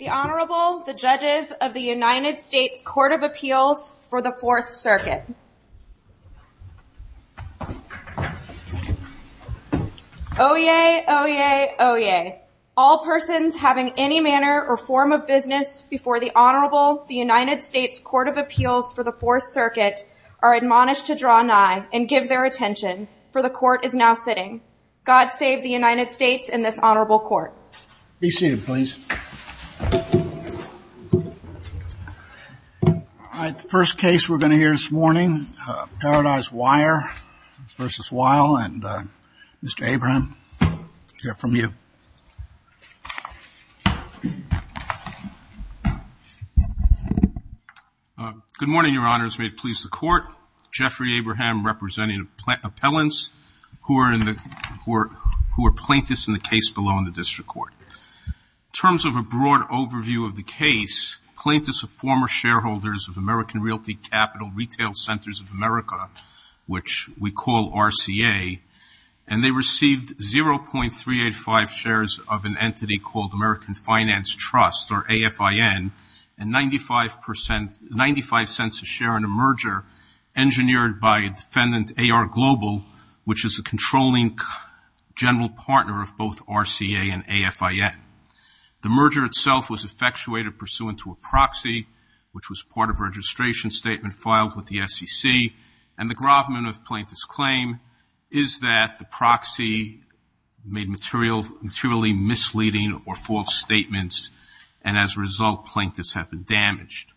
The Honorable, the Judges of the United States Court of Appeals for the 4th Circuit. Oyez, oyez, oyez. All persons having any manner or form of business before the Honorable, the United States Court of Appeals for the 4th Circuit are admonished to draw nigh and give their attention, for the Court is now sitting. God save the United States and this Honorable Court. Be seated, please. All right, the first case we're going to hear this morning, Paradise Wire v. Weil, and Mr. Abraham, we'll hear from you. May it please the Court. Jeffrey Abraham representing appellants who are plaintiffs in the case below in the district court. In terms of a broad overview of the case, plaintiffs are former shareholders of American Realty Capital Retail Centers of America, which we call RCA, and they received 0.385 shares of an entity called American Finance Trust, or AFIN, and 95 cents a share in a merger engineered by defendant AR Global, which is a controlling general partner of both RCA and AFIN. The merger itself was effectuated pursuant to a proxy, which was part of a registration statement filed with the SEC, and the gravamen of plaintiff's claim is that the proxy made materially misleading or false statements, and as a result, plaintiffs have been damaged.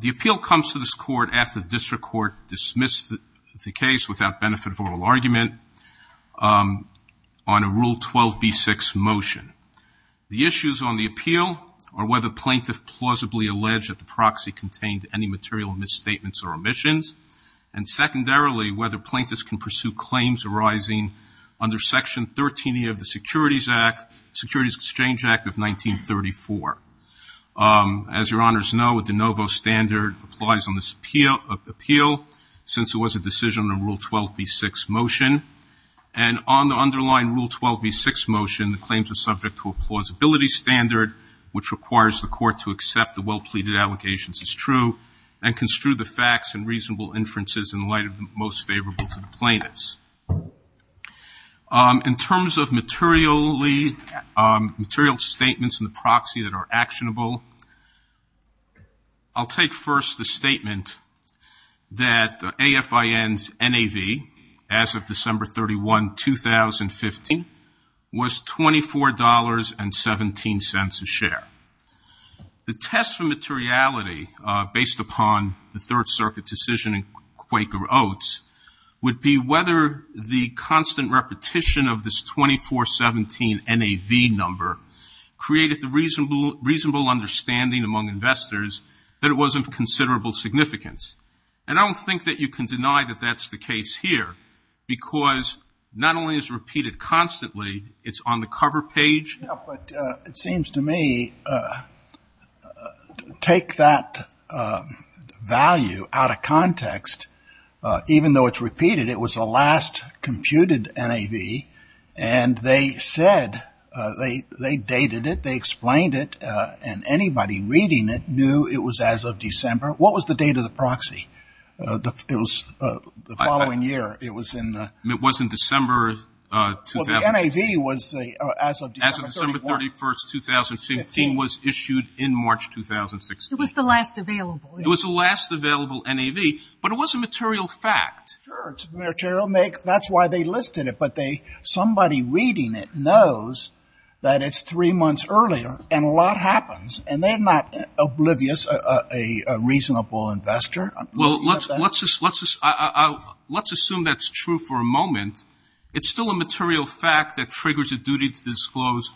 The appeal comes to this Court after the district court dismissed the case without benefit of oral argument on a Rule 12b6 motion. The issues on the appeal are whether plaintiff plausibly alleged that the proxy contained any material misstatements or omissions, and secondarily, whether plaintiffs can pursue claims arising under Section 13e of the Securities Act, Securities Exchange Act of 1934. As your Honors know, a de novo standard applies on this appeal since it was a decision on a Rule 12b6 motion, and on the underlying Rule 12b6 motion, the claims are subject to a plausibility standard, which requires the Court to accept the well-pleaded allegations as true and construe the facts and reasonable inferences in light of the most favorable to the plaintiffs. In terms of material statements in the proxy that are actionable, I'll take first the statement that AFIN's NAV, as of December 31, 2015, was $24.17 a share. The test for materiality, based upon the Third Circuit decision in Quaker Oats, would be whether the constant repetition of this $24.17 NAV number created the reasonable understanding among investors that it was of considerable significance. And I don't think that you can deny that that's the case here, because not only is it repeated constantly, it's on the cover page. Yeah, but it seems to me, take that value out of context, even though it's repeated, it was the last computed NAV, and they said, they dated it, they explained it, and anybody reading it knew it was as of December. What was the date of the proxy? It was the following year. It was in the... It was in December... Well, the NAV was as of December 31, 2015. As of December 31, 2015, was issued in March 2016. It was the last available, yeah. It was the last available NAV, but it was a material fact. Sure, it's a material make. That's why they listed it, but somebody reading it knows that it's three months earlier, and a lot happens, and they're not oblivious, a reasonable investor. Well, let's assume that's true for a moment. It's still a material fact that triggers a duty to disclose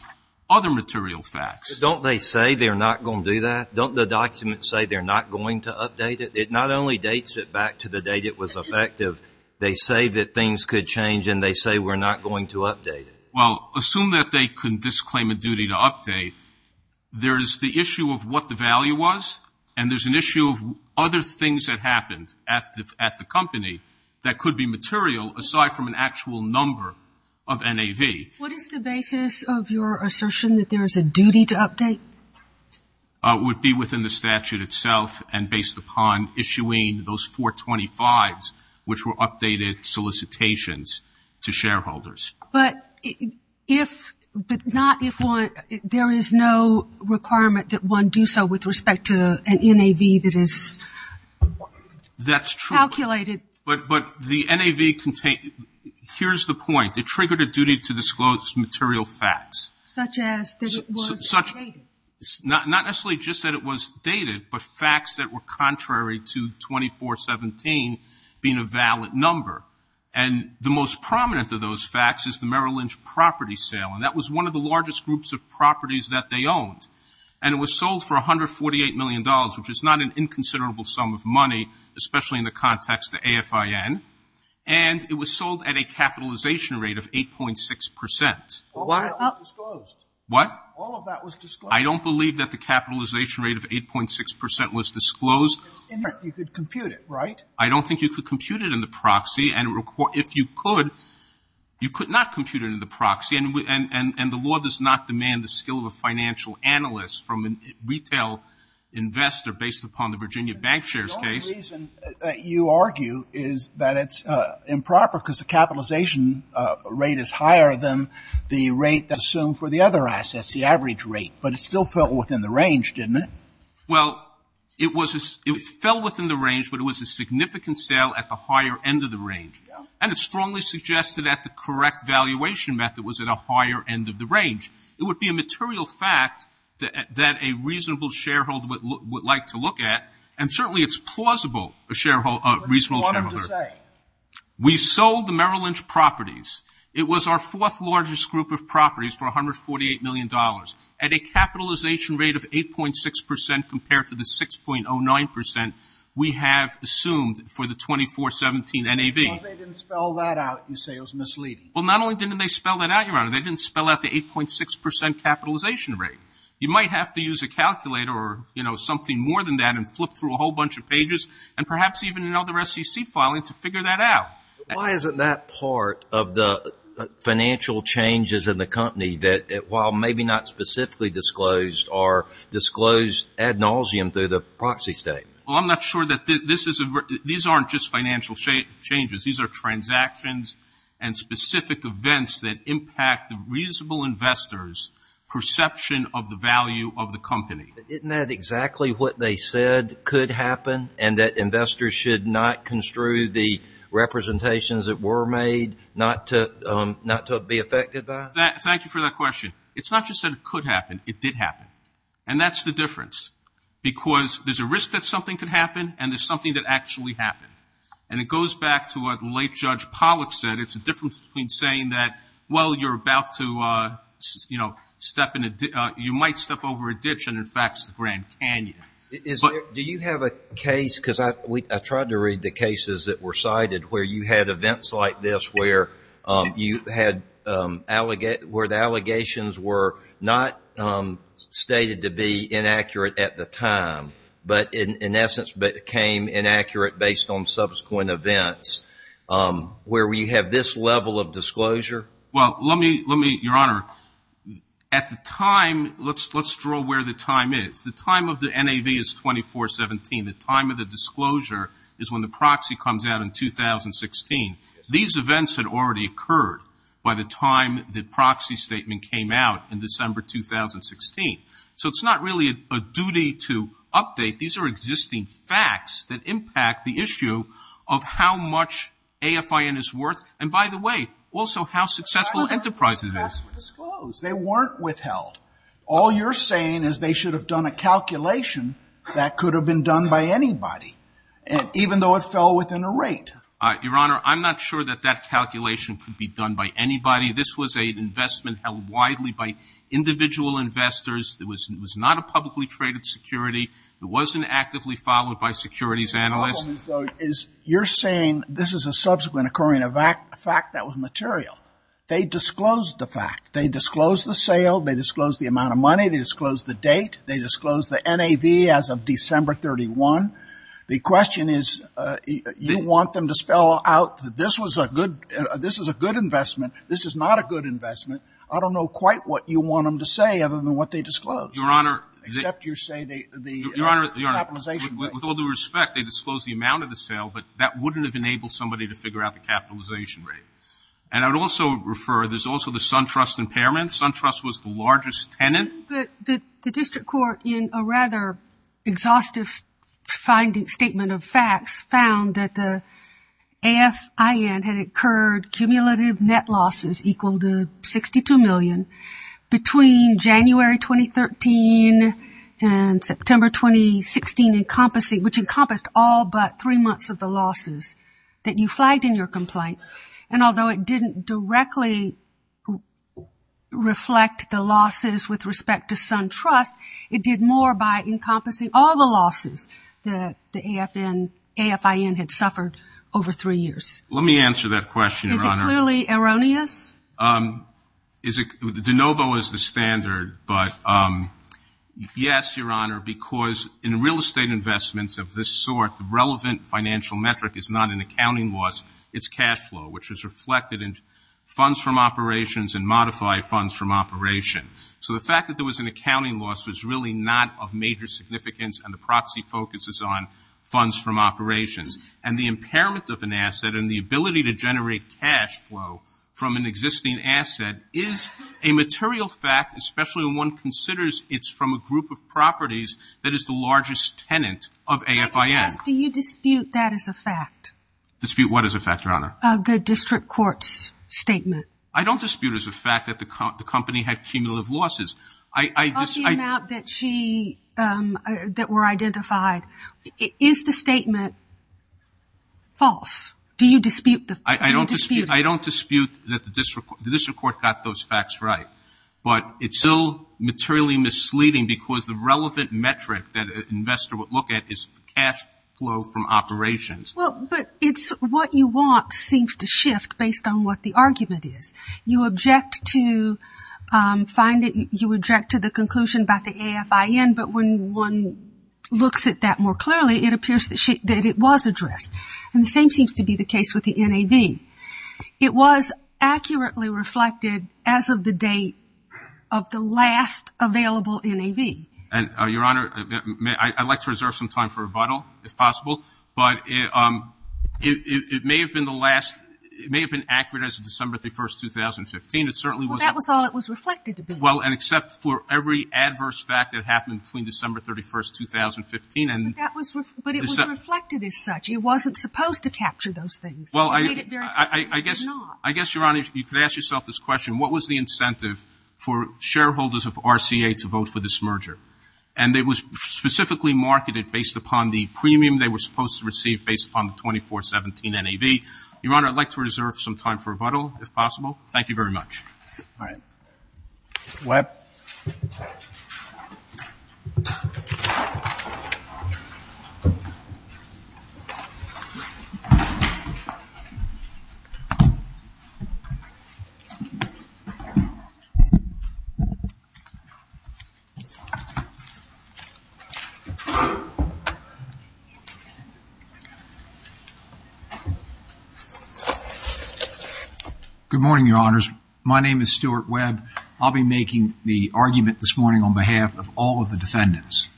other material facts. Don't they say they're not going to do that? Don't the documents say they're not going to update it? It not only dates it back to the date it was effective, they say that things could change, and they say we're not going to update it. Well, assume that they can disclaim a duty to update. There's the issue of what the value was, and there's an issue of other things that happened at the company that could be material, aside from an actual number of NAV. What is the basis of your assertion that there is a duty to update? It would be within the statute itself, and based upon issuing those 425s, which were updated solicitations to shareholders. But if, but not if one, there is no requirement that one do so with respect to an NAV that is calculated. That's true, but the NAV contained, here's the point. It triggered a duty to disclose material facts. Such as that it was dated. Not necessarily just that it was dated, but facts that were contrary to 2417 being a valid number. And the most prominent of those facts is the Merrill Lynch property sale, and that was one of the largest groups of properties that they owned. And it was sold for $148 million, which is not an inconsiderable sum of money, especially in the context of AFIN. And it was sold at a capitalization rate of 8.6%. All of that was disclosed. What? All of that was disclosed. I don't believe that the capitalization rate of 8.6% was disclosed. You could compute it, right? I don't think you could compute it in the proxy. And if you could, you could not compute it in the proxy. And the law does not demand the skill of a financial analyst from a retail investor, based upon the Virginia bank shares case. The only reason that you argue is that it's improper, because the capitalization rate is higher than the rate that's assumed for the other assets. The average rate. But it still fell within the range, didn't it? Well, it fell within the range, but it was a significant sale at the higher end of the range. And it strongly suggested that the correct valuation method was at a higher end of the range. It would be a material fact that a reasonable shareholder would like to look at. And certainly it's plausible, a reasonable shareholder. What do you want him to say? We sold the Merrill Lynch properties. It was our fourth largest group of properties for $148 million, at a capitalization rate of 8.6% compared to the 6.09% we have assumed for the 2417 NAV. Well, they didn't spell that out, you say. It was misleading. Well, not only didn't they spell that out, Your Honor, they didn't spell out the 8.6% capitalization rate. You might have to use a calculator or something more than that and flip through a whole bunch of pages, and perhaps even another SEC filing to figure that out. Why isn't that part of the financial changes in the company, that while maybe not specifically disclosed, are disclosed ad nauseum through the proxy statement? Well, I'm not sure that this is a... These aren't just financial changes. These are transactions and specific events that impact the reasonable investor's perception of the value of the company. Isn't that exactly what they said could happen, and that investors should not construe the representations that were made not to be affected by it? Thank you for that question. It's not just that it could happen. It did happen. And that's the difference, because there's a risk that something could happen, and there's something that actually happened. And it goes back to what late Judge Pollack said. It's a difference between saying that, well, you're about to, you know, step in a... You might step over a ditch and, in fact, it's the Grand Canyon. Is there... Do you have a case... Because I tried to read the cases that were cited where you had events like this where you had allegations... where the allegations were not stated to be inaccurate at the time, but in essence became inaccurate based on subsequent events, where you have this level of disclosure? Well, let me... Your Honour, at the time... Let's draw where the time is. The time of the NAV is 24-17. The time of the disclosure is when the proxy comes out in 2016. These events had already occurred by the time the proxy statement came out in December 2016. So it's not really a duty to update. These are existing facts that impact the issue of how much AFIN is worth, and, by the way, also how successful Enterprise is. They weren't withheld. All you're saying is they should have done a calculation that could have been done by anybody, even though it fell within a rate. Your Honour, I'm not sure that that calculation could be done by anybody. This was an investment held widely by individual investors. It was not a publicly traded security. It wasn't actively followed by securities analysts. So you're saying this is a subsequent occurring fact that was material. They disclosed the fact. They disclosed the sale. They disclosed the amount of money. They disclosed the date. They disclosed the NAV as of December 31. The question is, you want them to spell out that this was a good investment, this is not a good investment. I don't know quite what you want them to say other than what they disclosed. Your Honour... Except you say the capitalization rate. With all due respect, they disclosed the amount of the sale, but that wouldn't have enabled somebody to figure out the capitalization rate. And I would also refer, there's also the SunTrust impairment. SunTrust was the largest tenant. The district court, in a rather exhaustive statement of facts, found that the AFIN had incurred cumulative net losses equal to $62 million between January 2013 and September 2016, which encompassed all but three months of the losses that you flagged in your complaint. And although it didn't directly reflect the losses with respect to SunTrust, it did more by encompassing all the losses that the AFIN had suffered over three years. Let me answer that question, Your Honour. Is it clearly erroneous? Is it... De Novo is the standard, but yes, Your Honour, because in real estate investments of this sort, the relevant financial metric is not an accounting loss, it's cash flow, which is reflected in funds from operations and modified funds from operation. So the fact that there was an accounting loss was really not of major significance and the proxy focuses on funds from operations. And the impairment of an asset and the ability to generate cash flow from an existing asset is a material fact, especially when one considers it's from a group of properties that is the largest tenant of AFIN. Do you dispute that as a fact? Dispute what as a fact, Your Honour? The district court's statement. I don't dispute as a fact that the company had cumulative losses. I just... Of the amount that she, that were identified, is the statement false? Do you dispute the... I don't dispute that the district court got those facts right. But it's still materially misleading because the relevant metric that an investor would look at is cash flow from operations. Well, but it's what you want seems to shift based on what the argument is. You object to find it, you object to the conclusion about the AFIN, but when one looks at that more clearly, it appears that it was addressed. And the same seems to be the case with the NAV. It was accurately reflected as of the date of the last available NAV. And Your Honour, I'd like to reserve some time for rebuttal if possible, but it may have been the last, it may have been accurate as of December 31st, 2015. It certainly was... Well, that was all it was reflected to be. Well, and except for every adverse fact that happened between December 31st, 2015 and... But that was, but it was reflected as such. It wasn't supposed to capture those things. Well, I guess... It made it very clear that it did not. I guess, Your Honour, you could ask yourself this question. What was the incentive for shareholders of RCA to vote for this merger? And it was specifically marketed based upon the premium they were supposed to receive based upon the 2417 NAV. Your Honour, I'd like to reserve some time for rebuttal if possible. Thank you very much. All right. Webb. Good morning, Your Honours. My name is Stuart Webb. I'll be making the argument this morning on behalf of all of the defendants.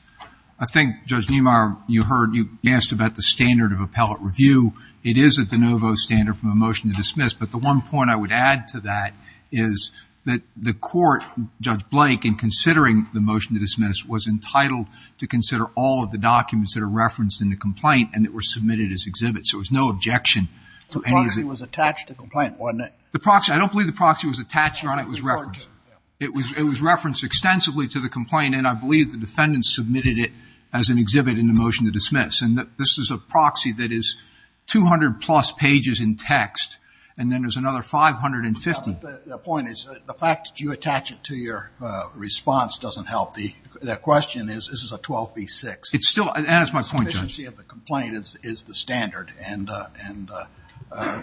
I think, Judge Niemeyer, you heard, you asked about the standard of appellate review. It is at the nouveau standard from a motion to dismiss, but the one point I would add to that is that the court, Judge Blake, in considering the motion to dismiss was entitled to consider all of the documents that are referenced in the complaint and that were submitted as exhibits. There was no objection to the motion to dismiss. The proxy was attached to the complaint, wasn't it? The proxy, I don't believe the proxy was attached, Your Honour, it was referenced. It was referenced extensively to the complaint and I believe the defendants submitted it as an exhibit in the motion to dismiss. And this is a proxy that is 200 plus pages in text and then there's another 550. The point is, the fact that you attach it to your response doesn't help. The question is, this is a 12B6. It's still, and that's my point, Judge. The sufficiency of the complaint is the standard and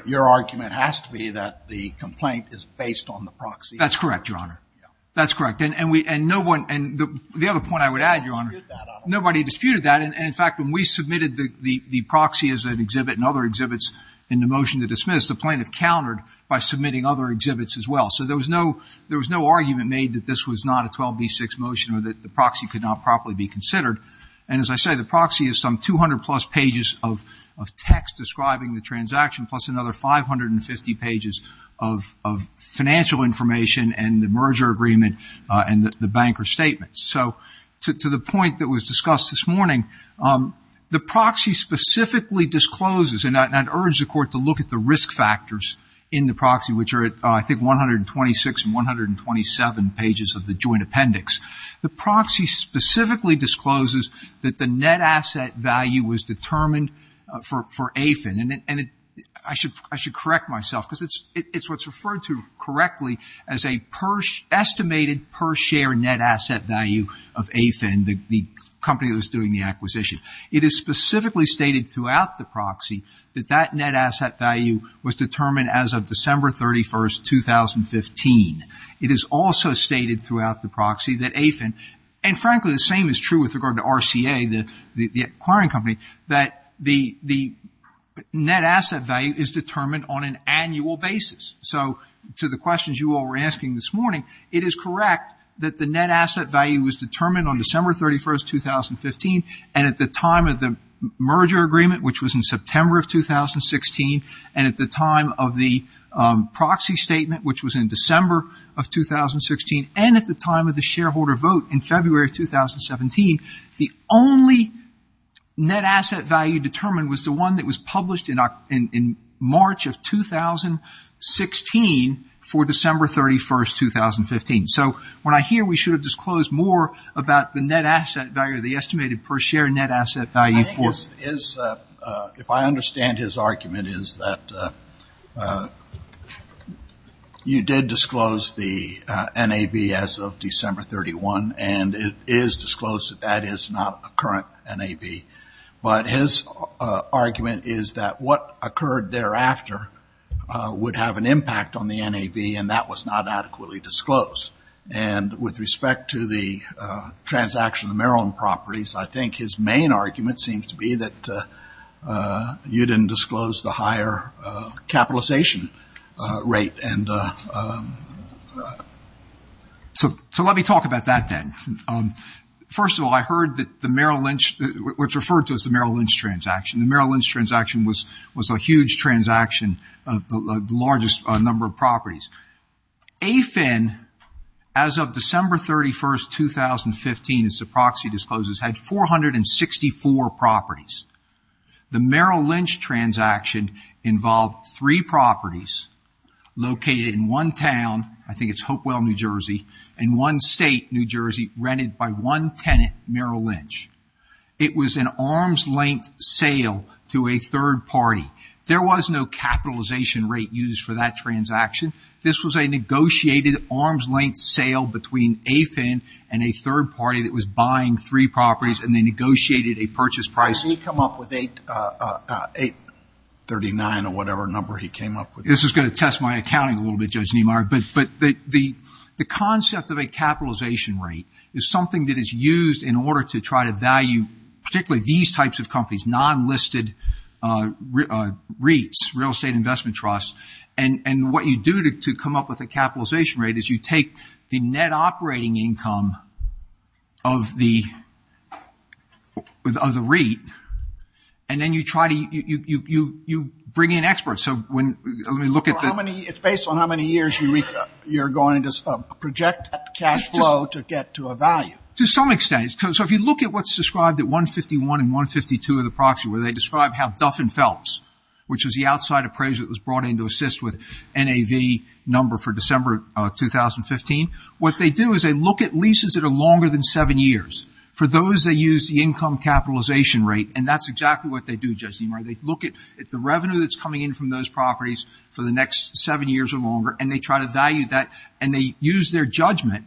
your argument has to be that the complaint is based on the proxy. That's correct, Your Honour. That's correct. And the other point I would add, Your Honour, nobody disputed that and in fact, when we submitted the proxy as an exhibit and other exhibits in the motion to dismiss, the plaintiff countered by submitting other exhibits as well. So there was no argument made that this was not a 12B6 motion or that the proxy could not properly be considered. And as I say, the proxy is some 200 plus pages of text describing the transaction plus another 550 pages of financial information and the merger agreement and the banker statements. So to the point that was discussed this morning, the proxy specifically discloses, and I'd urge the court to look at the risk factors in the proxy, which are at, I think, 126 and 127 pages of the joint appendix. The proxy specifically discloses that the net asset value was determined for AFIN and I should correct myself because it's what's referred to correctly as a estimated per share net asset value of AFIN, the company that was doing the acquisition. It is specifically stated throughout the proxy that that net asset value was determined It is also stated throughout the proxy that AFIN, and frankly the same is true with regard to RCA, the acquiring company, that the net asset value is determined on an annual basis. So to the questions you all were asking this morning, it is correct that the net asset value was determined on December 31st, 2015 and at the time of the merger agreement, which was in September of 2016, and at the time of the proxy statement, which was in December of 2016, and at the time of the shareholder vote in February of 2017, the only net asset value determined was the one that was published in March of 2016 for December 31st, 2015. So when I hear we should have disclosed more about the net asset value, the estimated per share net asset value for- I think his, if I understand his argument, is that you did disclose the NAV, as of December 31, and it is disclosed that that is not a current NAV. But his argument is that what occurred thereafter would have an impact on the NAV and that was not adequately disclosed. And with respect to the transaction of Maryland properties, I think his main argument seems to be that you didn't disclose the higher capitalization rate and so let me talk about that then. First of all, I heard that the Merrill Lynch, what's referred to as the Merrill Lynch transaction, the Merrill Lynch transaction was a huge transaction, the largest number of properties. AFIN, as of December 31st, 2015, as the proxy discloses, had 464 properties. The Merrill Lynch transaction involved three properties, located in one town, I think it's Hopewell, New Jersey, in one state, New Jersey, rented by one tenant, Merrill Lynch. It was an arm's length sale to a third party. There was no capitalization rate used for that transaction. This was a negotiated arm's length sale between AFIN and a third party that was buying three properties and they negotiated a purchase price. Did he come up with 839 or whatever number he came up with? This is gonna test my accounting a little bit, Judge Niemeyer, but the concept of a capitalization rate is something that is used in order to try to value, particularly these types of companies, non-listed REITs, real estate investment trusts, and what you do to come up with a capitalization rate is you take the net operating income of the REIT and then you try to, you bring in experts. Let me look at the- It's based on how many years, Eureka, you're going to project that cash flow to get to a value. To some extent, so if you look at what's described at 151 and 152 of the proxy, where they describe how Duff & Phelps, which is the outside appraisal that was brought in to assist with NAV number for December 2015, what they do is they look at leases that are longer than seven years. For those, they use the income capitalization rate and that's exactly what they do, Judge Niemeyer. They look at the revenue that's coming in from those properties for the next seven years or longer and they try to value that and they use their judgment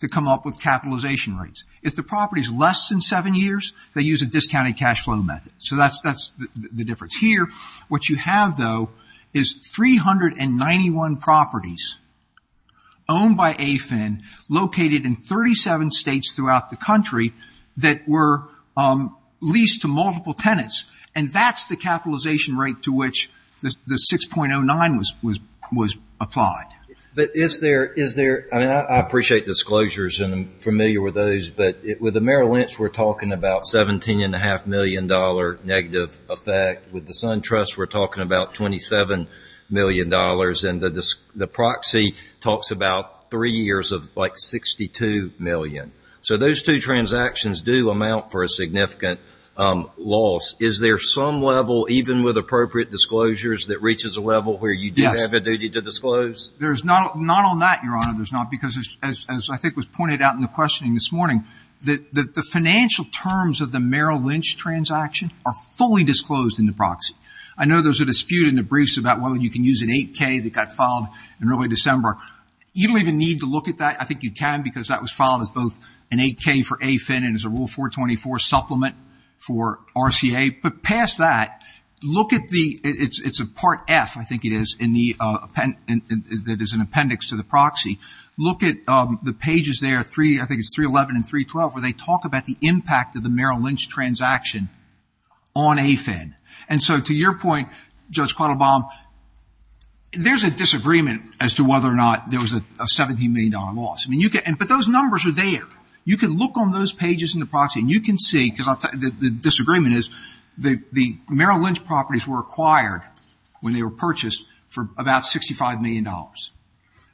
to come up with capitalization rates. If the property's less than seven years, they use a discounted cash flow method. So that's the difference here. What you have, though, is 391 properties owned by AFIN located in 37 states throughout the country that were leased to multiple tenants and that's the capitalization rate to which the 6.09 was applied. But is there, I appreciate disclosures and I'm familiar with those, but with the Merrill Lynch, we're talking about $17.5 million negative effect. With the Sun Trust, we're talking about $27 million and the proxy talks about three years of like 62 million. So those two transactions do amount for a significant loss. Is there some level, even with appropriate disclosures, that reaches a level where you do have a duty to disclose? There's not on that, Your Honor, there's not because as I think was pointed out in the questioning this morning, the financial terms of the Merrill Lynch transaction are fully disclosed in the proxy. I know there's a dispute in the briefs about whether you can use an 8K that got filed in early December. You don't even need to look at that. I think you can because that was filed as both an 8K for AFIN and as a Rule 424 supplement for RCA, but past that, look at the, it's a Part F, I think it is, that is an appendix to the proxy. Look at the pages there, I think it's 311 and 312, where they talk about the impact of the Merrill Lynch transaction on AFIN. And so to your point, Judge Quattlebaum, there's a disagreement as to whether or not there was a $17 million loss. But those numbers are there. You can look on those pages in the proxy and you can see, because the disagreement is the Merrill Lynch properties were acquired when they were purchased for about $65 million.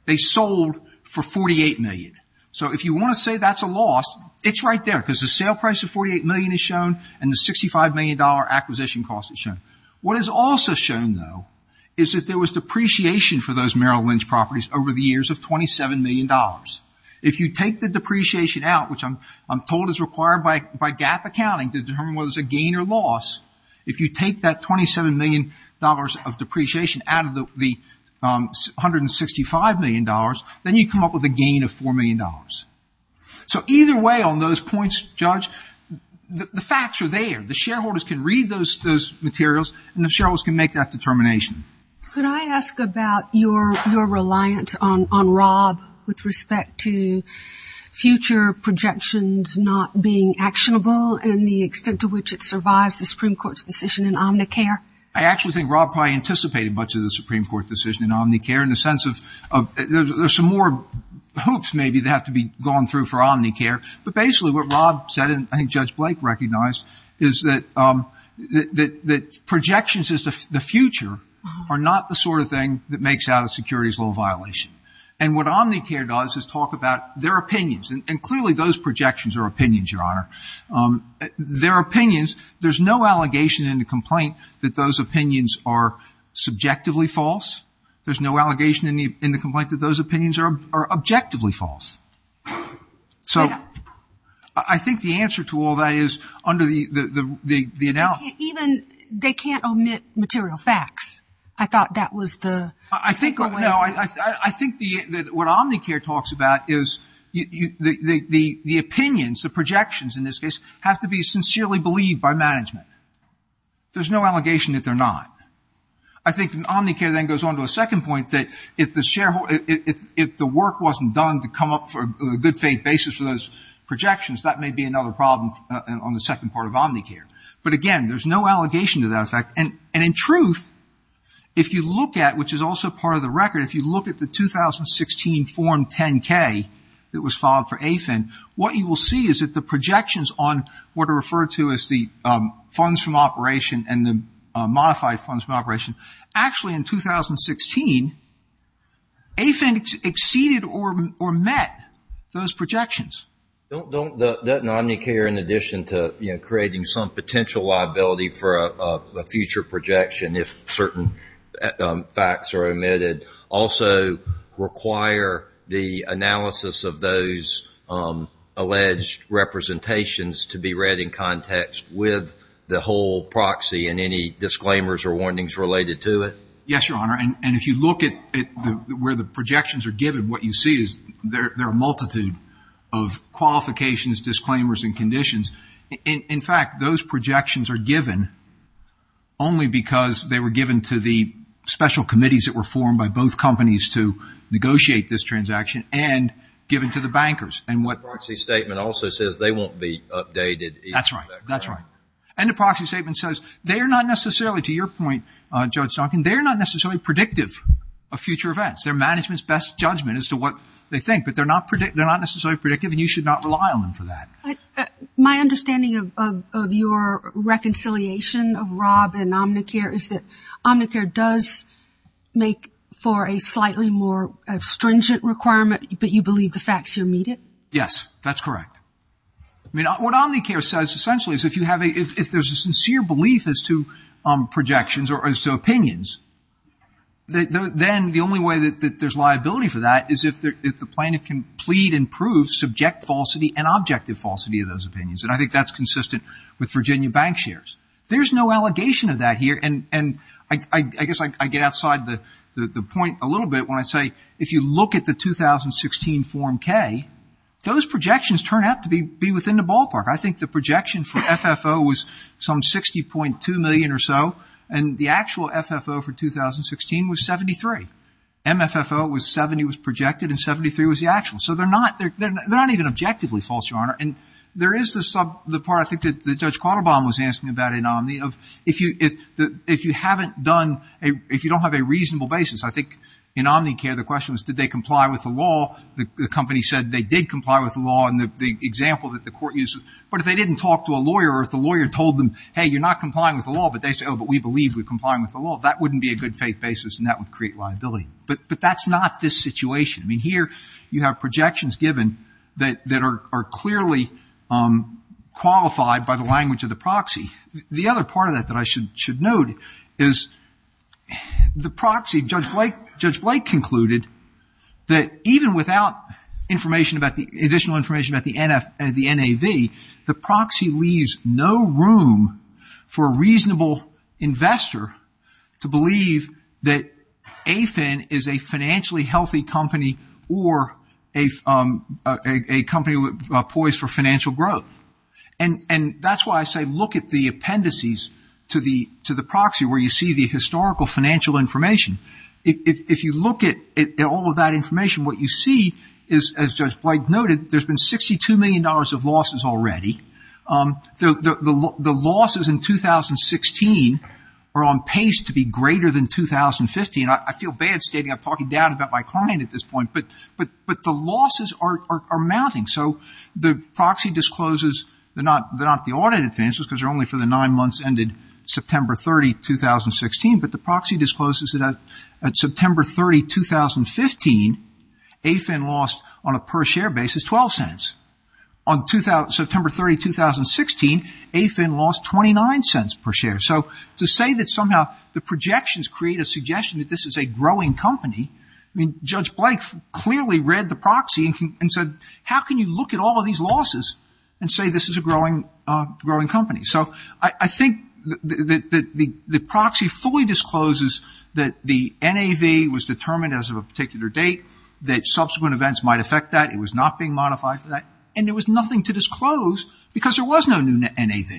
They sold for $48 million. So if you want to say that's a loss, it's right there, because the sale price of $48 million is shown and the $65 million acquisition cost is shown. What is also shown, though, is that there was depreciation for those Merrill Lynch properties over the years of $27 million. If you take the depreciation out, which I'm told is required by GAAP accounting to determine whether it's a gain or loss, if you take that $27 million of depreciation out of the $165 million, then you come up with a gain of $4 million. So either way on those points, Judge, the facts are there. The shareholders can read those materials and the shareholders can make that determination. Could I ask about your reliance on Rob with respect to future projections not being actionable and the extent to which it survives the Supreme Court's decision in Omnicare? I actually think Rob probably anticipated much of the Supreme Court decision in Omnicare in the sense of there's some more hoops, maybe, that have to be gone through for Omnicare. But basically what Rob said, and I think Judge Blake recognized, is that projections as to the future are not the sort of thing that makes out a securities law violation. And what Omnicare does is talk about their opinions, and clearly those projections are opinions, Your Honor. Their opinions, there's no allegation in the complaint that those opinions are subjectively false. There's no allegation in the complaint that those opinions are objectively false. So I think the answer to all that is under the analysis. Even they can't omit material facts. I thought that was the way. I think that what Omnicare talks about is the opinions, the projections in this case, have to be sincerely believed by management. There's no allegation that they're not. I think Omnicare then goes on to a second point that if the work wasn't done to come up for a good faith basis for those projections, that may be another problem on the second part of Omnicare. But again, there's no allegation to that effect. And in truth, if you look at, which is also part of the record, if you look at the 2016 Form 10-K that was filed for AFIN, what you will see is that the projections on what are referred to as the funds from operation and the modified funds from operation, actually in 2016, AFIN exceeded or met those projections. Don't, doesn't Omnicare, in addition to, you know, creating some potential liability for a future projection if certain facts are omitted, also require the analysis of those alleged representations to be read in context with the whole proxy and any disclaimers or warnings related to it? Yes, Your Honor. And if you look at where the projections are given, what you see is there are a multitude of qualifications, disclaimers, and conditions. In fact, those projections are given only because they were given to the special committees that were formed by both companies to negotiate this transaction and given to the bankers. And what- The proxy statement also says they won't be updated. That's right. That's right. And the proxy statement says they are not necessarily, to your point, Judge Duncan, they're not necessarily predictive of future events. Their management's best judgment as to what they think, but they're not necessarily predictive and you should not rely on them for that. My understanding of your reconciliation of Rob and Omnicare is that Omnicare does make for a slightly more stringent requirement, but you believe the facts are omitted? Yes, that's correct. I mean, what Omnicare says, essentially, is if you have a, if there's a sincere belief as to projections or as to opinions, then the only way that there's liability for that is if the plaintiff can plead and prove subject falsity and objective falsity of those opinions. And I think that's consistent with Virginia bank shares. There's no allegation of that here. And I guess I get outside the point a little bit when I say, if you look at the 2016 Form K, those projections turn out to be within the ballpark. I think the projection for FFO was some 60.2 million or so and the actual FFO for 2016 was 73. MFFO was 70 was projected and 73 was the actual. So they're not even objectively false, Your Honor. And there is the sub, the part I think that the Judge Quattlebaum was asking about a nominee of, if you haven't done, if you don't have a reasonable basis, I think in Omnicare, the question was, did they comply with the law? The company said they did comply with the law and the example that the court uses, but if they didn't talk to a lawyer or if the lawyer told them, hey, you're not complying with the law, but they say, oh, but we believe we're complying with the law, that wouldn't be a good faith basis and that would create liability. But that's not this situation. I mean, here you have projections given that are clearly qualified by the language of the proxy. The other part of that that I should note is the proxy, Judge Blake concluded that even without information about the, additional information about the NAV, the proxy leaves no room for a reasonable investor to believe that AFIN is a financially healthy company or a company poised for financial growth. And that's why I say, look at the appendices to the proxy where you see the historical financial information. If you look at all of that information, what you see is, as Judge Blake noted, there's been $62 million of losses already. The losses in 2016 are on pace to be greater than 2015. I feel bad stating I'm talking down about my client at this point, but the losses are mounting. So the proxy discloses, they're not the audit advances because they're only for the nine months ended September 30, 2016, but the proxy discloses that at September 30, 2015, AFIN lost, on a per share basis, 12 cents. On September 30, 2016, AFIN lost 29 cents per share. So to say that somehow the projections create a suggestion that this is a growing company, I mean, Judge Blake clearly read the proxy and said, how can you look at all of these losses and say this is a growing company? So I think that the proxy fully discloses that the NAV was determined as of a particular date, that subsequent events might affect that, it was not being modified for that, and there was nothing to disclose because there was no new NAV.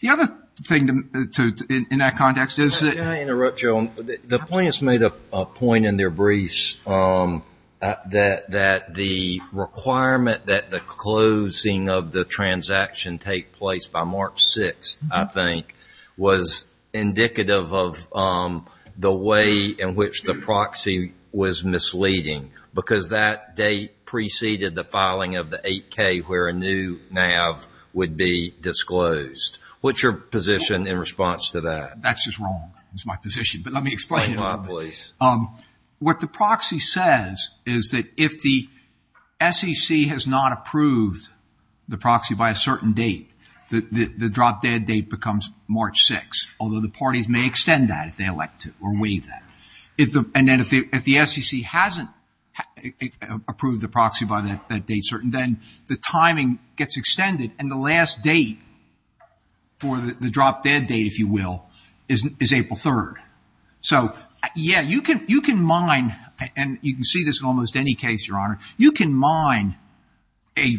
The other thing in that context is that- Can I interrupt you on, the plaintiffs made a point in their briefs that the requirement that the closing of the transaction take place by March 6th, I think, was indicative of the way in which the proxy was misleading because that date preceded the filing of the 8K where a new NAV would be disclosed. What's your position in response to that? That's just wrong, is my position, but let me explain it a little bit. What the proxy says is that if the SEC has not approved the proxy by a certain date, the drop dead date becomes March 6th, although the parties may extend that if they elect to, or waive that. And then if the SEC hasn't approved the proxy by that date certain, then the timing gets extended and the last date for the drop dead date, if you will, is April 3rd. So, yeah, you can mine, and you can see this in almost any case, your honor, you can mine a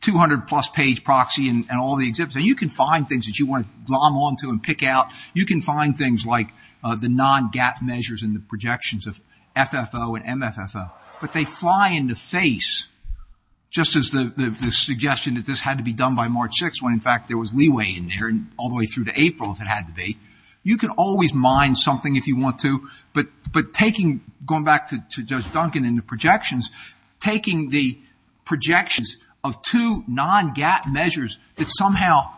200 plus page proxy and all the exhibits, and you can find things that you want to glom onto and pick out. You can find things like the non-gap measures and the projections of FFO and MFFO, but they fly into face, just as the suggestion that this had to be done by March 6th when in fact there was leeway in there all the way through to April if it had to be. You can always mine something if you want to, but taking, going back to Judge Duncan and the projections, taking the projections of two non-gap measures that somehow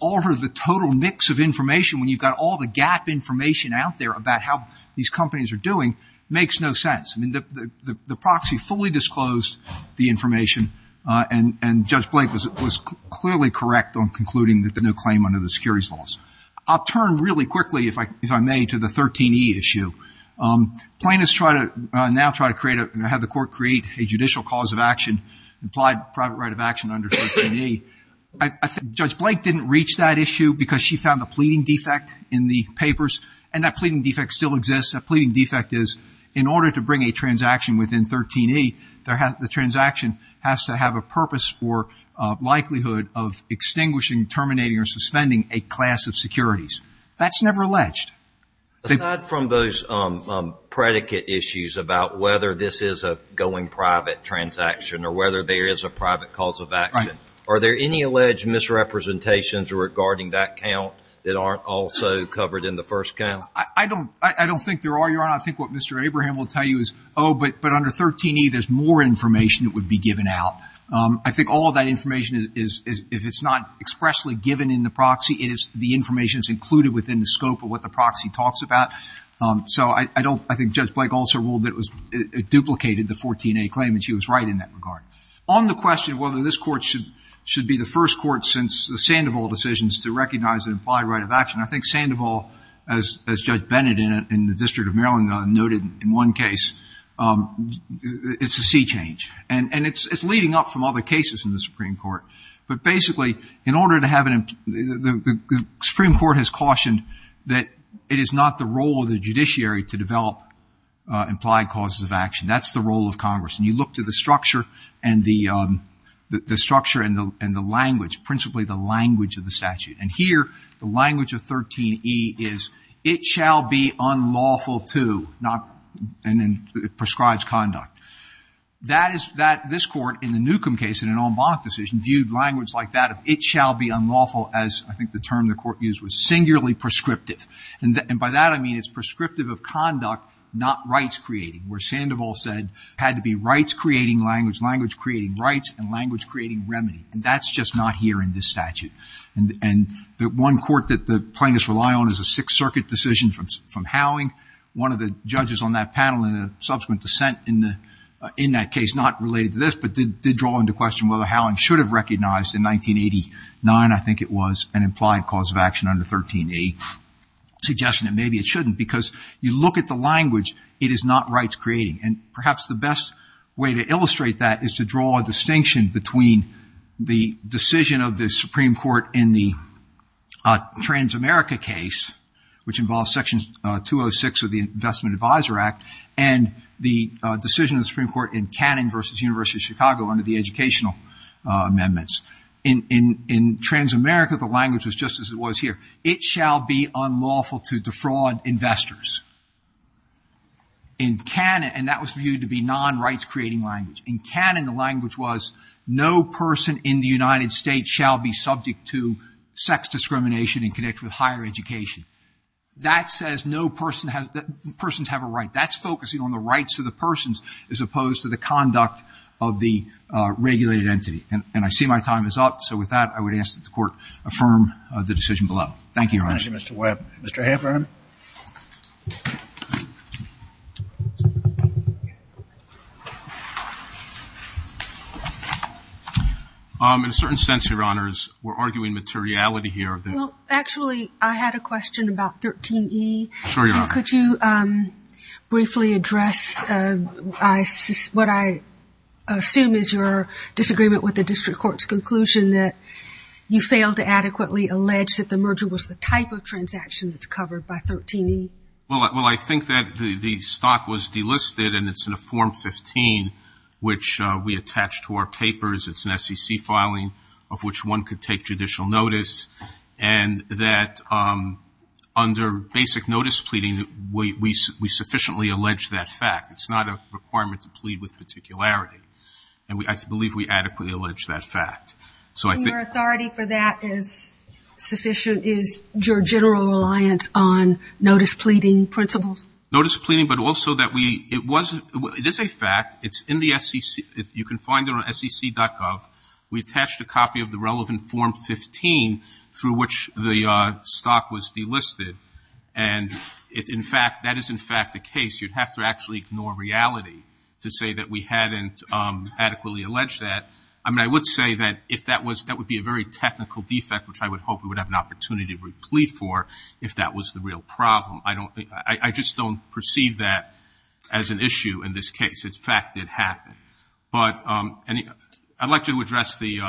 alter the total mix of information when you've got all the gap information out there about how these companies are doing makes no sense. I mean, the proxy fully disclosed the information and Judge Blake was clearly correct on concluding that the new claim under the securities laws. I'll turn really quickly, if I may, to the 13E issue. Plaintiffs now try to create, have the court create a judicial cause of action, implied private right of action under 13E. I think Judge Blake didn't reach that issue because she found the pleading defect in the papers, and that pleading defect still exists. That pleading defect is in order to bring a transaction within 13E, the transaction has to have a purpose or likelihood of extinguishing, terminating, or suspending a class of securities. That's never alleged. Aside from those predicate issues about whether this is a going private transaction or whether there is a private cause of action, are there any alleged misrepresentations regarding that count that aren't also covered in the first count? I don't think there are, Your Honor. I think what Mr. Abraham will tell you is, oh, but under 13E there's more information that would be given out. I think all of that information is, if it's not expressly given in the proxy, it is the information that's included within the scope of what the proxy talks about. So I don't, I think Judge Blake also ruled that it was, it duplicated the 14A claim and she was right in that regard. On the question of whether this court should be the first court since the Sandoval decisions to recognize an implied right of action, I think Sandoval, as Judge Bennett in the District of Maryland noted in one case, it's a sea change. And it's leading up from other cases in the Supreme Court. But basically, in order to have an, the Supreme Court has cautioned that it is not the role of the judiciary to develop implied causes of action. That's the role of Congress. And you look to the structure and the language, principally the language of the statute. And here, the language of 13E is, it shall be unlawful to, and it prescribes conduct. That is, this court in the Newcomb case in an en banc decision viewed language like that of it shall be unlawful as, I think the term the court used was singularly prescriptive. And by that I mean it's prescriptive of conduct, not rights creating, where Sandoval said, had to be rights creating language, language creating rights, and language creating remedy. And that's just not here in this statute. And the one court that the plaintiffs rely on is a Sixth Circuit decision from Howing. One of the judges on that panel, in a subsequent dissent in that case, not related to this, but did draw into question whether Howing should have recognized in 1989, I think it was, an implied cause of action under 13A, suggesting that maybe it shouldn't. Because you look at the language, it is not rights creating. And perhaps the best way to illustrate that is to draw a distinction between the decision of the Supreme Court in the Transamerica case, which involves section 206 of the Investment Advisor Act, and the decision of the Supreme Court in Cannon versus University of Chicago under the educational amendments. In Transamerica, the language was just as it was here. It shall be unlawful to defraud investors. In Cannon, and that was viewed to be non rights creating language. In Cannon, the language was, no person in the United States shall be subject to sex discrimination in connection with higher education. That says no person has, persons have a right. That's focusing on the rights of the persons as opposed to the conduct of the regulated entity. And I see my time is up. So with that, I would ask that the Court affirm the decision below. Thank you, Your Honor. Thank you, Mr. Webb. Mr. Heffern. In a certain sense, Your Honors, we're arguing materiality here. Well, actually, I had a question about 13E. Sure, Your Honor. Could you briefly address what I assume is your disagreement with the District Court's conclusion that you failed to adequately allege that the merger was the type of transaction that's covered by 13E? Well, I think that the stock was delisted and it's in a form 15, which we attach to our papers. It's an SEC filing of which one could take judicial notice. And that under basic notice pleading, we sufficiently allege that fact. It's not a requirement to plead with particularity. And I believe we adequately allege that fact. So I think- And your authority for that is sufficient, is your general reliance on notice pleading principles? Notice pleading, but also that we, it was, it is a fact. You can find it on sec.gov. We attached a copy of the relevant form 15 through which the stock was delisted. And if in fact, that is in fact the case, you'd have to actually ignore reality to say that we hadn't adequately alleged that. I mean, I would say that if that was, that would be a very technical defect, which I would hope we would have an opportunity to plead for if that was the real problem. I don't think, I just don't perceive that as an issue in this case. It's fact that it happened. But I'd like to address the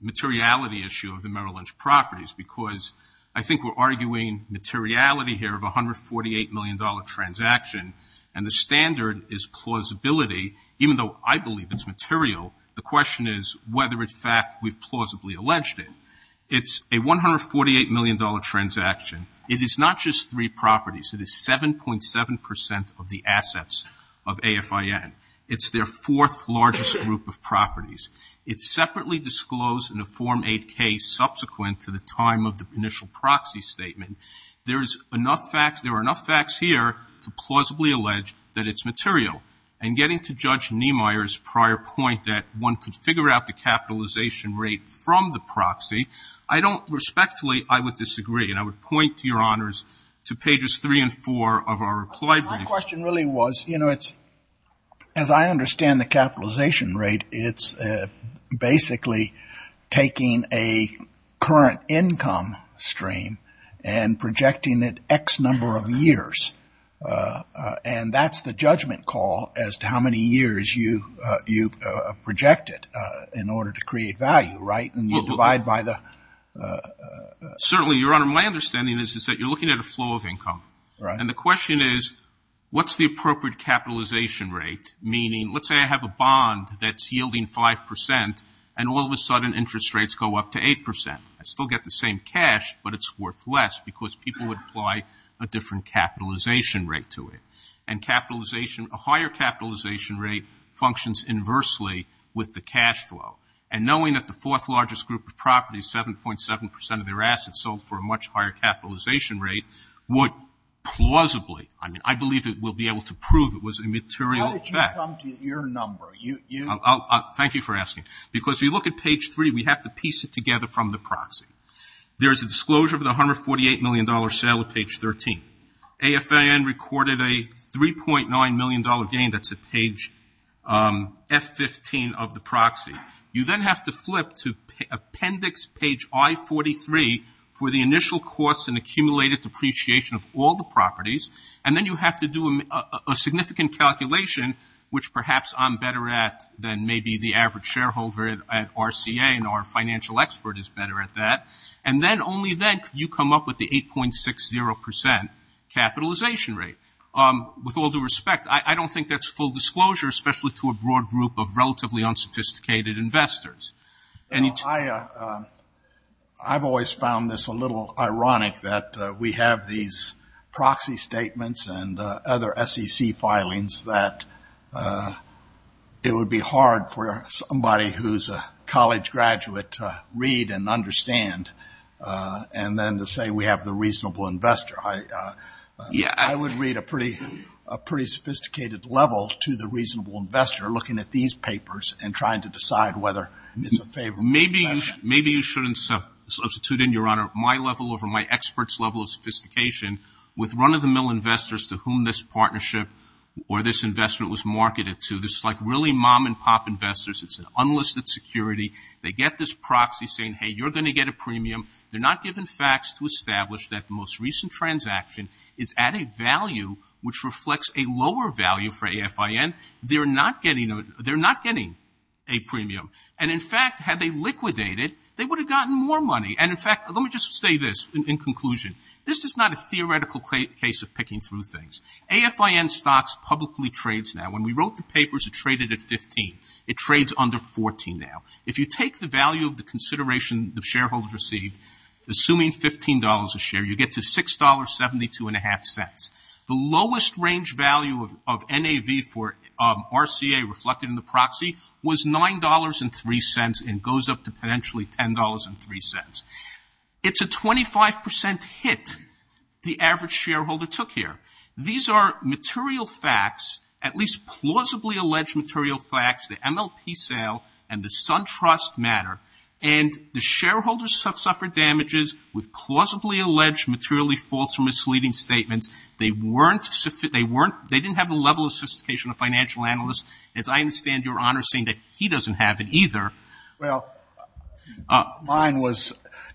materiality issue of the Merrill Lynch properties, because I think we're arguing materiality here of $148 million transaction. And the standard is plausibility, even though I believe it's material. The question is whether in fact we've plausibly alleged it. It's a $148 million transaction. It is not just three properties. It is 7.7% of the assets of AFIN. It's their fourth largest group of properties. It's separately disclosed in a Form 8 case subsequent to the time of the initial proxy statement. There is enough facts, there are enough facts here to plausibly allege that it's material. And getting to Judge Niemeyer's prior point that one could figure out the capitalization rate from the proxy, I don't respectfully, I would disagree. And I would point, Your Honors, to pages three and four of our reply brief. My question really was, you know it's, as I understand the capitalization rate, it's basically taking a current income stream and projecting it X number of years. And that's the judgment call as to how many years you project it in order to create value, right? And you divide by the... Certainly, Your Honor, my understanding is is that you're looking at a flow of income. And the question is, what's the appropriate capitalization rate? Meaning, let's say I have a bond that's yielding 5% and all of a sudden interest rates go up to 8%. I still get the same cash, but it's worth less because people would apply a different capitalization rate to it. And capitalization, a higher capitalization rate functions inversely with the cash flow. And knowing that the fourth largest group of properties, 7.7% of their assets sold for a much higher capitalization rate would plausibly, I mean, I believe it will be able to prove it was a material fact. How did you come to your number? Thank you for asking. Because if you look at page three, we have to piece it together from the proxy. There's a disclosure of the $148 million sale at page 13. AFIN recorded a $3.9 million gain. That's at page F15 of the proxy. You then have to flip to appendix page I-43 for the initial costs and accumulated depreciation of all the properties. And then you have to do a significant calculation, which perhaps I'm better at than maybe the average shareholder at RCA and our financial expert is better at that. And then only then could you come up with the 8.60% capitalization rate. With all due respect, I don't think that's full disclosure, especially to a broad group of relatively unsophisticated investors. I've always found this a little ironic that we have these proxy statements and other SEC filings that it would be hard for somebody who's a college graduate to read and understand. And then to say we have the reasonable investor. I would read a pretty sophisticated level to the reasonable investor, looking at these papers and trying to decide whether it's a favorable investment. Maybe you shouldn't substitute in, Your Honor, my level over my expert's level of sophistication with run-of-the-mill investors to whom this partnership or this investment was marketed to. This is like really mom-and-pop investors. It's an unlisted security. They get this proxy saying, hey, you're gonna get a premium. They're not given facts to establish that the most recent transaction is at a value which reflects a lower value for AFIN. They're not getting a premium. And in fact, had they liquidated, they would have gotten more money. And in fact, let me just say this in conclusion. This is not a theoretical case of picking through things. AFIN stocks publicly trades now. When we wrote the papers, it traded at 15. It trades under 14 now. If you take the value of the consideration the shareholders received, assuming $15 a share, you get to $6.72 and a half cents. The lowest range value of NAV for RCA reflected in the proxy was $9.03 and goes up to potentially $10.03. It's a 25% hit the average shareholder took here. These are material facts, at least plausibly alleged material facts, the MLP sale and the SunTrust matter. And the shareholders have suffered damages with plausibly alleged materially false or misleading statements. They didn't have the level of sophistication of financial analysts, as I understand your honor saying that he doesn't have it either. Well, mine was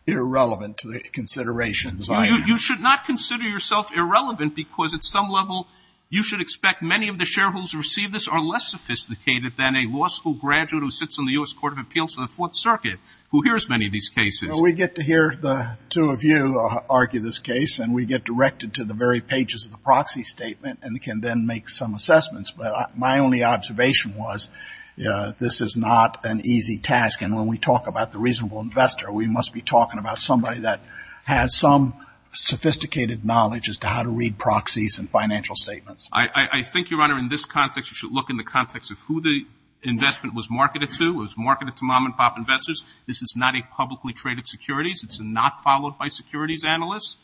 irrelevant to the considerations. You should not consider yourself irrelevant because at some level, you should expect many of the shareholders who receive this are less sophisticated than a law school graduate who sits on the US Court of Appeals for the Fourth Circuit, who hears many of these cases. We get to hear the two of you argue this case and we get directed to the very pages of the proxy statement and can then make some assessments. But my only observation was this is not an easy task. And when we talk about the reasonable investor, we must be talking about somebody that has some sophisticated knowledge as to how to read proxies and financial statements. I think your honor, in this context, you should look in the context of who the investment was marketed to. It was marketed to mom and pop investors. This is not a publicly traded securities. It's not followed by securities analysts.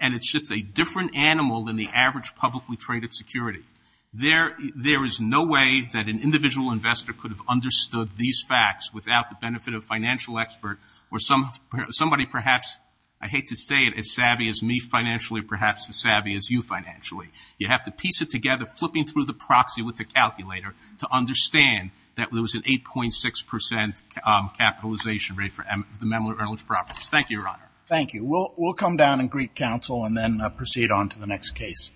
And it's just a different animal than the average publicly traded security. There is no way that an individual investor could have understood these facts without the benefit of a financial expert or somebody perhaps, I hate to say it, as savvy as me financially, perhaps as savvy as you financially. You have to piece it together, flipping through the proxy with the calculator to understand that there was an 8.6% capitalization rate for the Memler Earnest properties. Thank you, your honor. Thank you. We'll come down and greet counsel and then proceed on to the next case.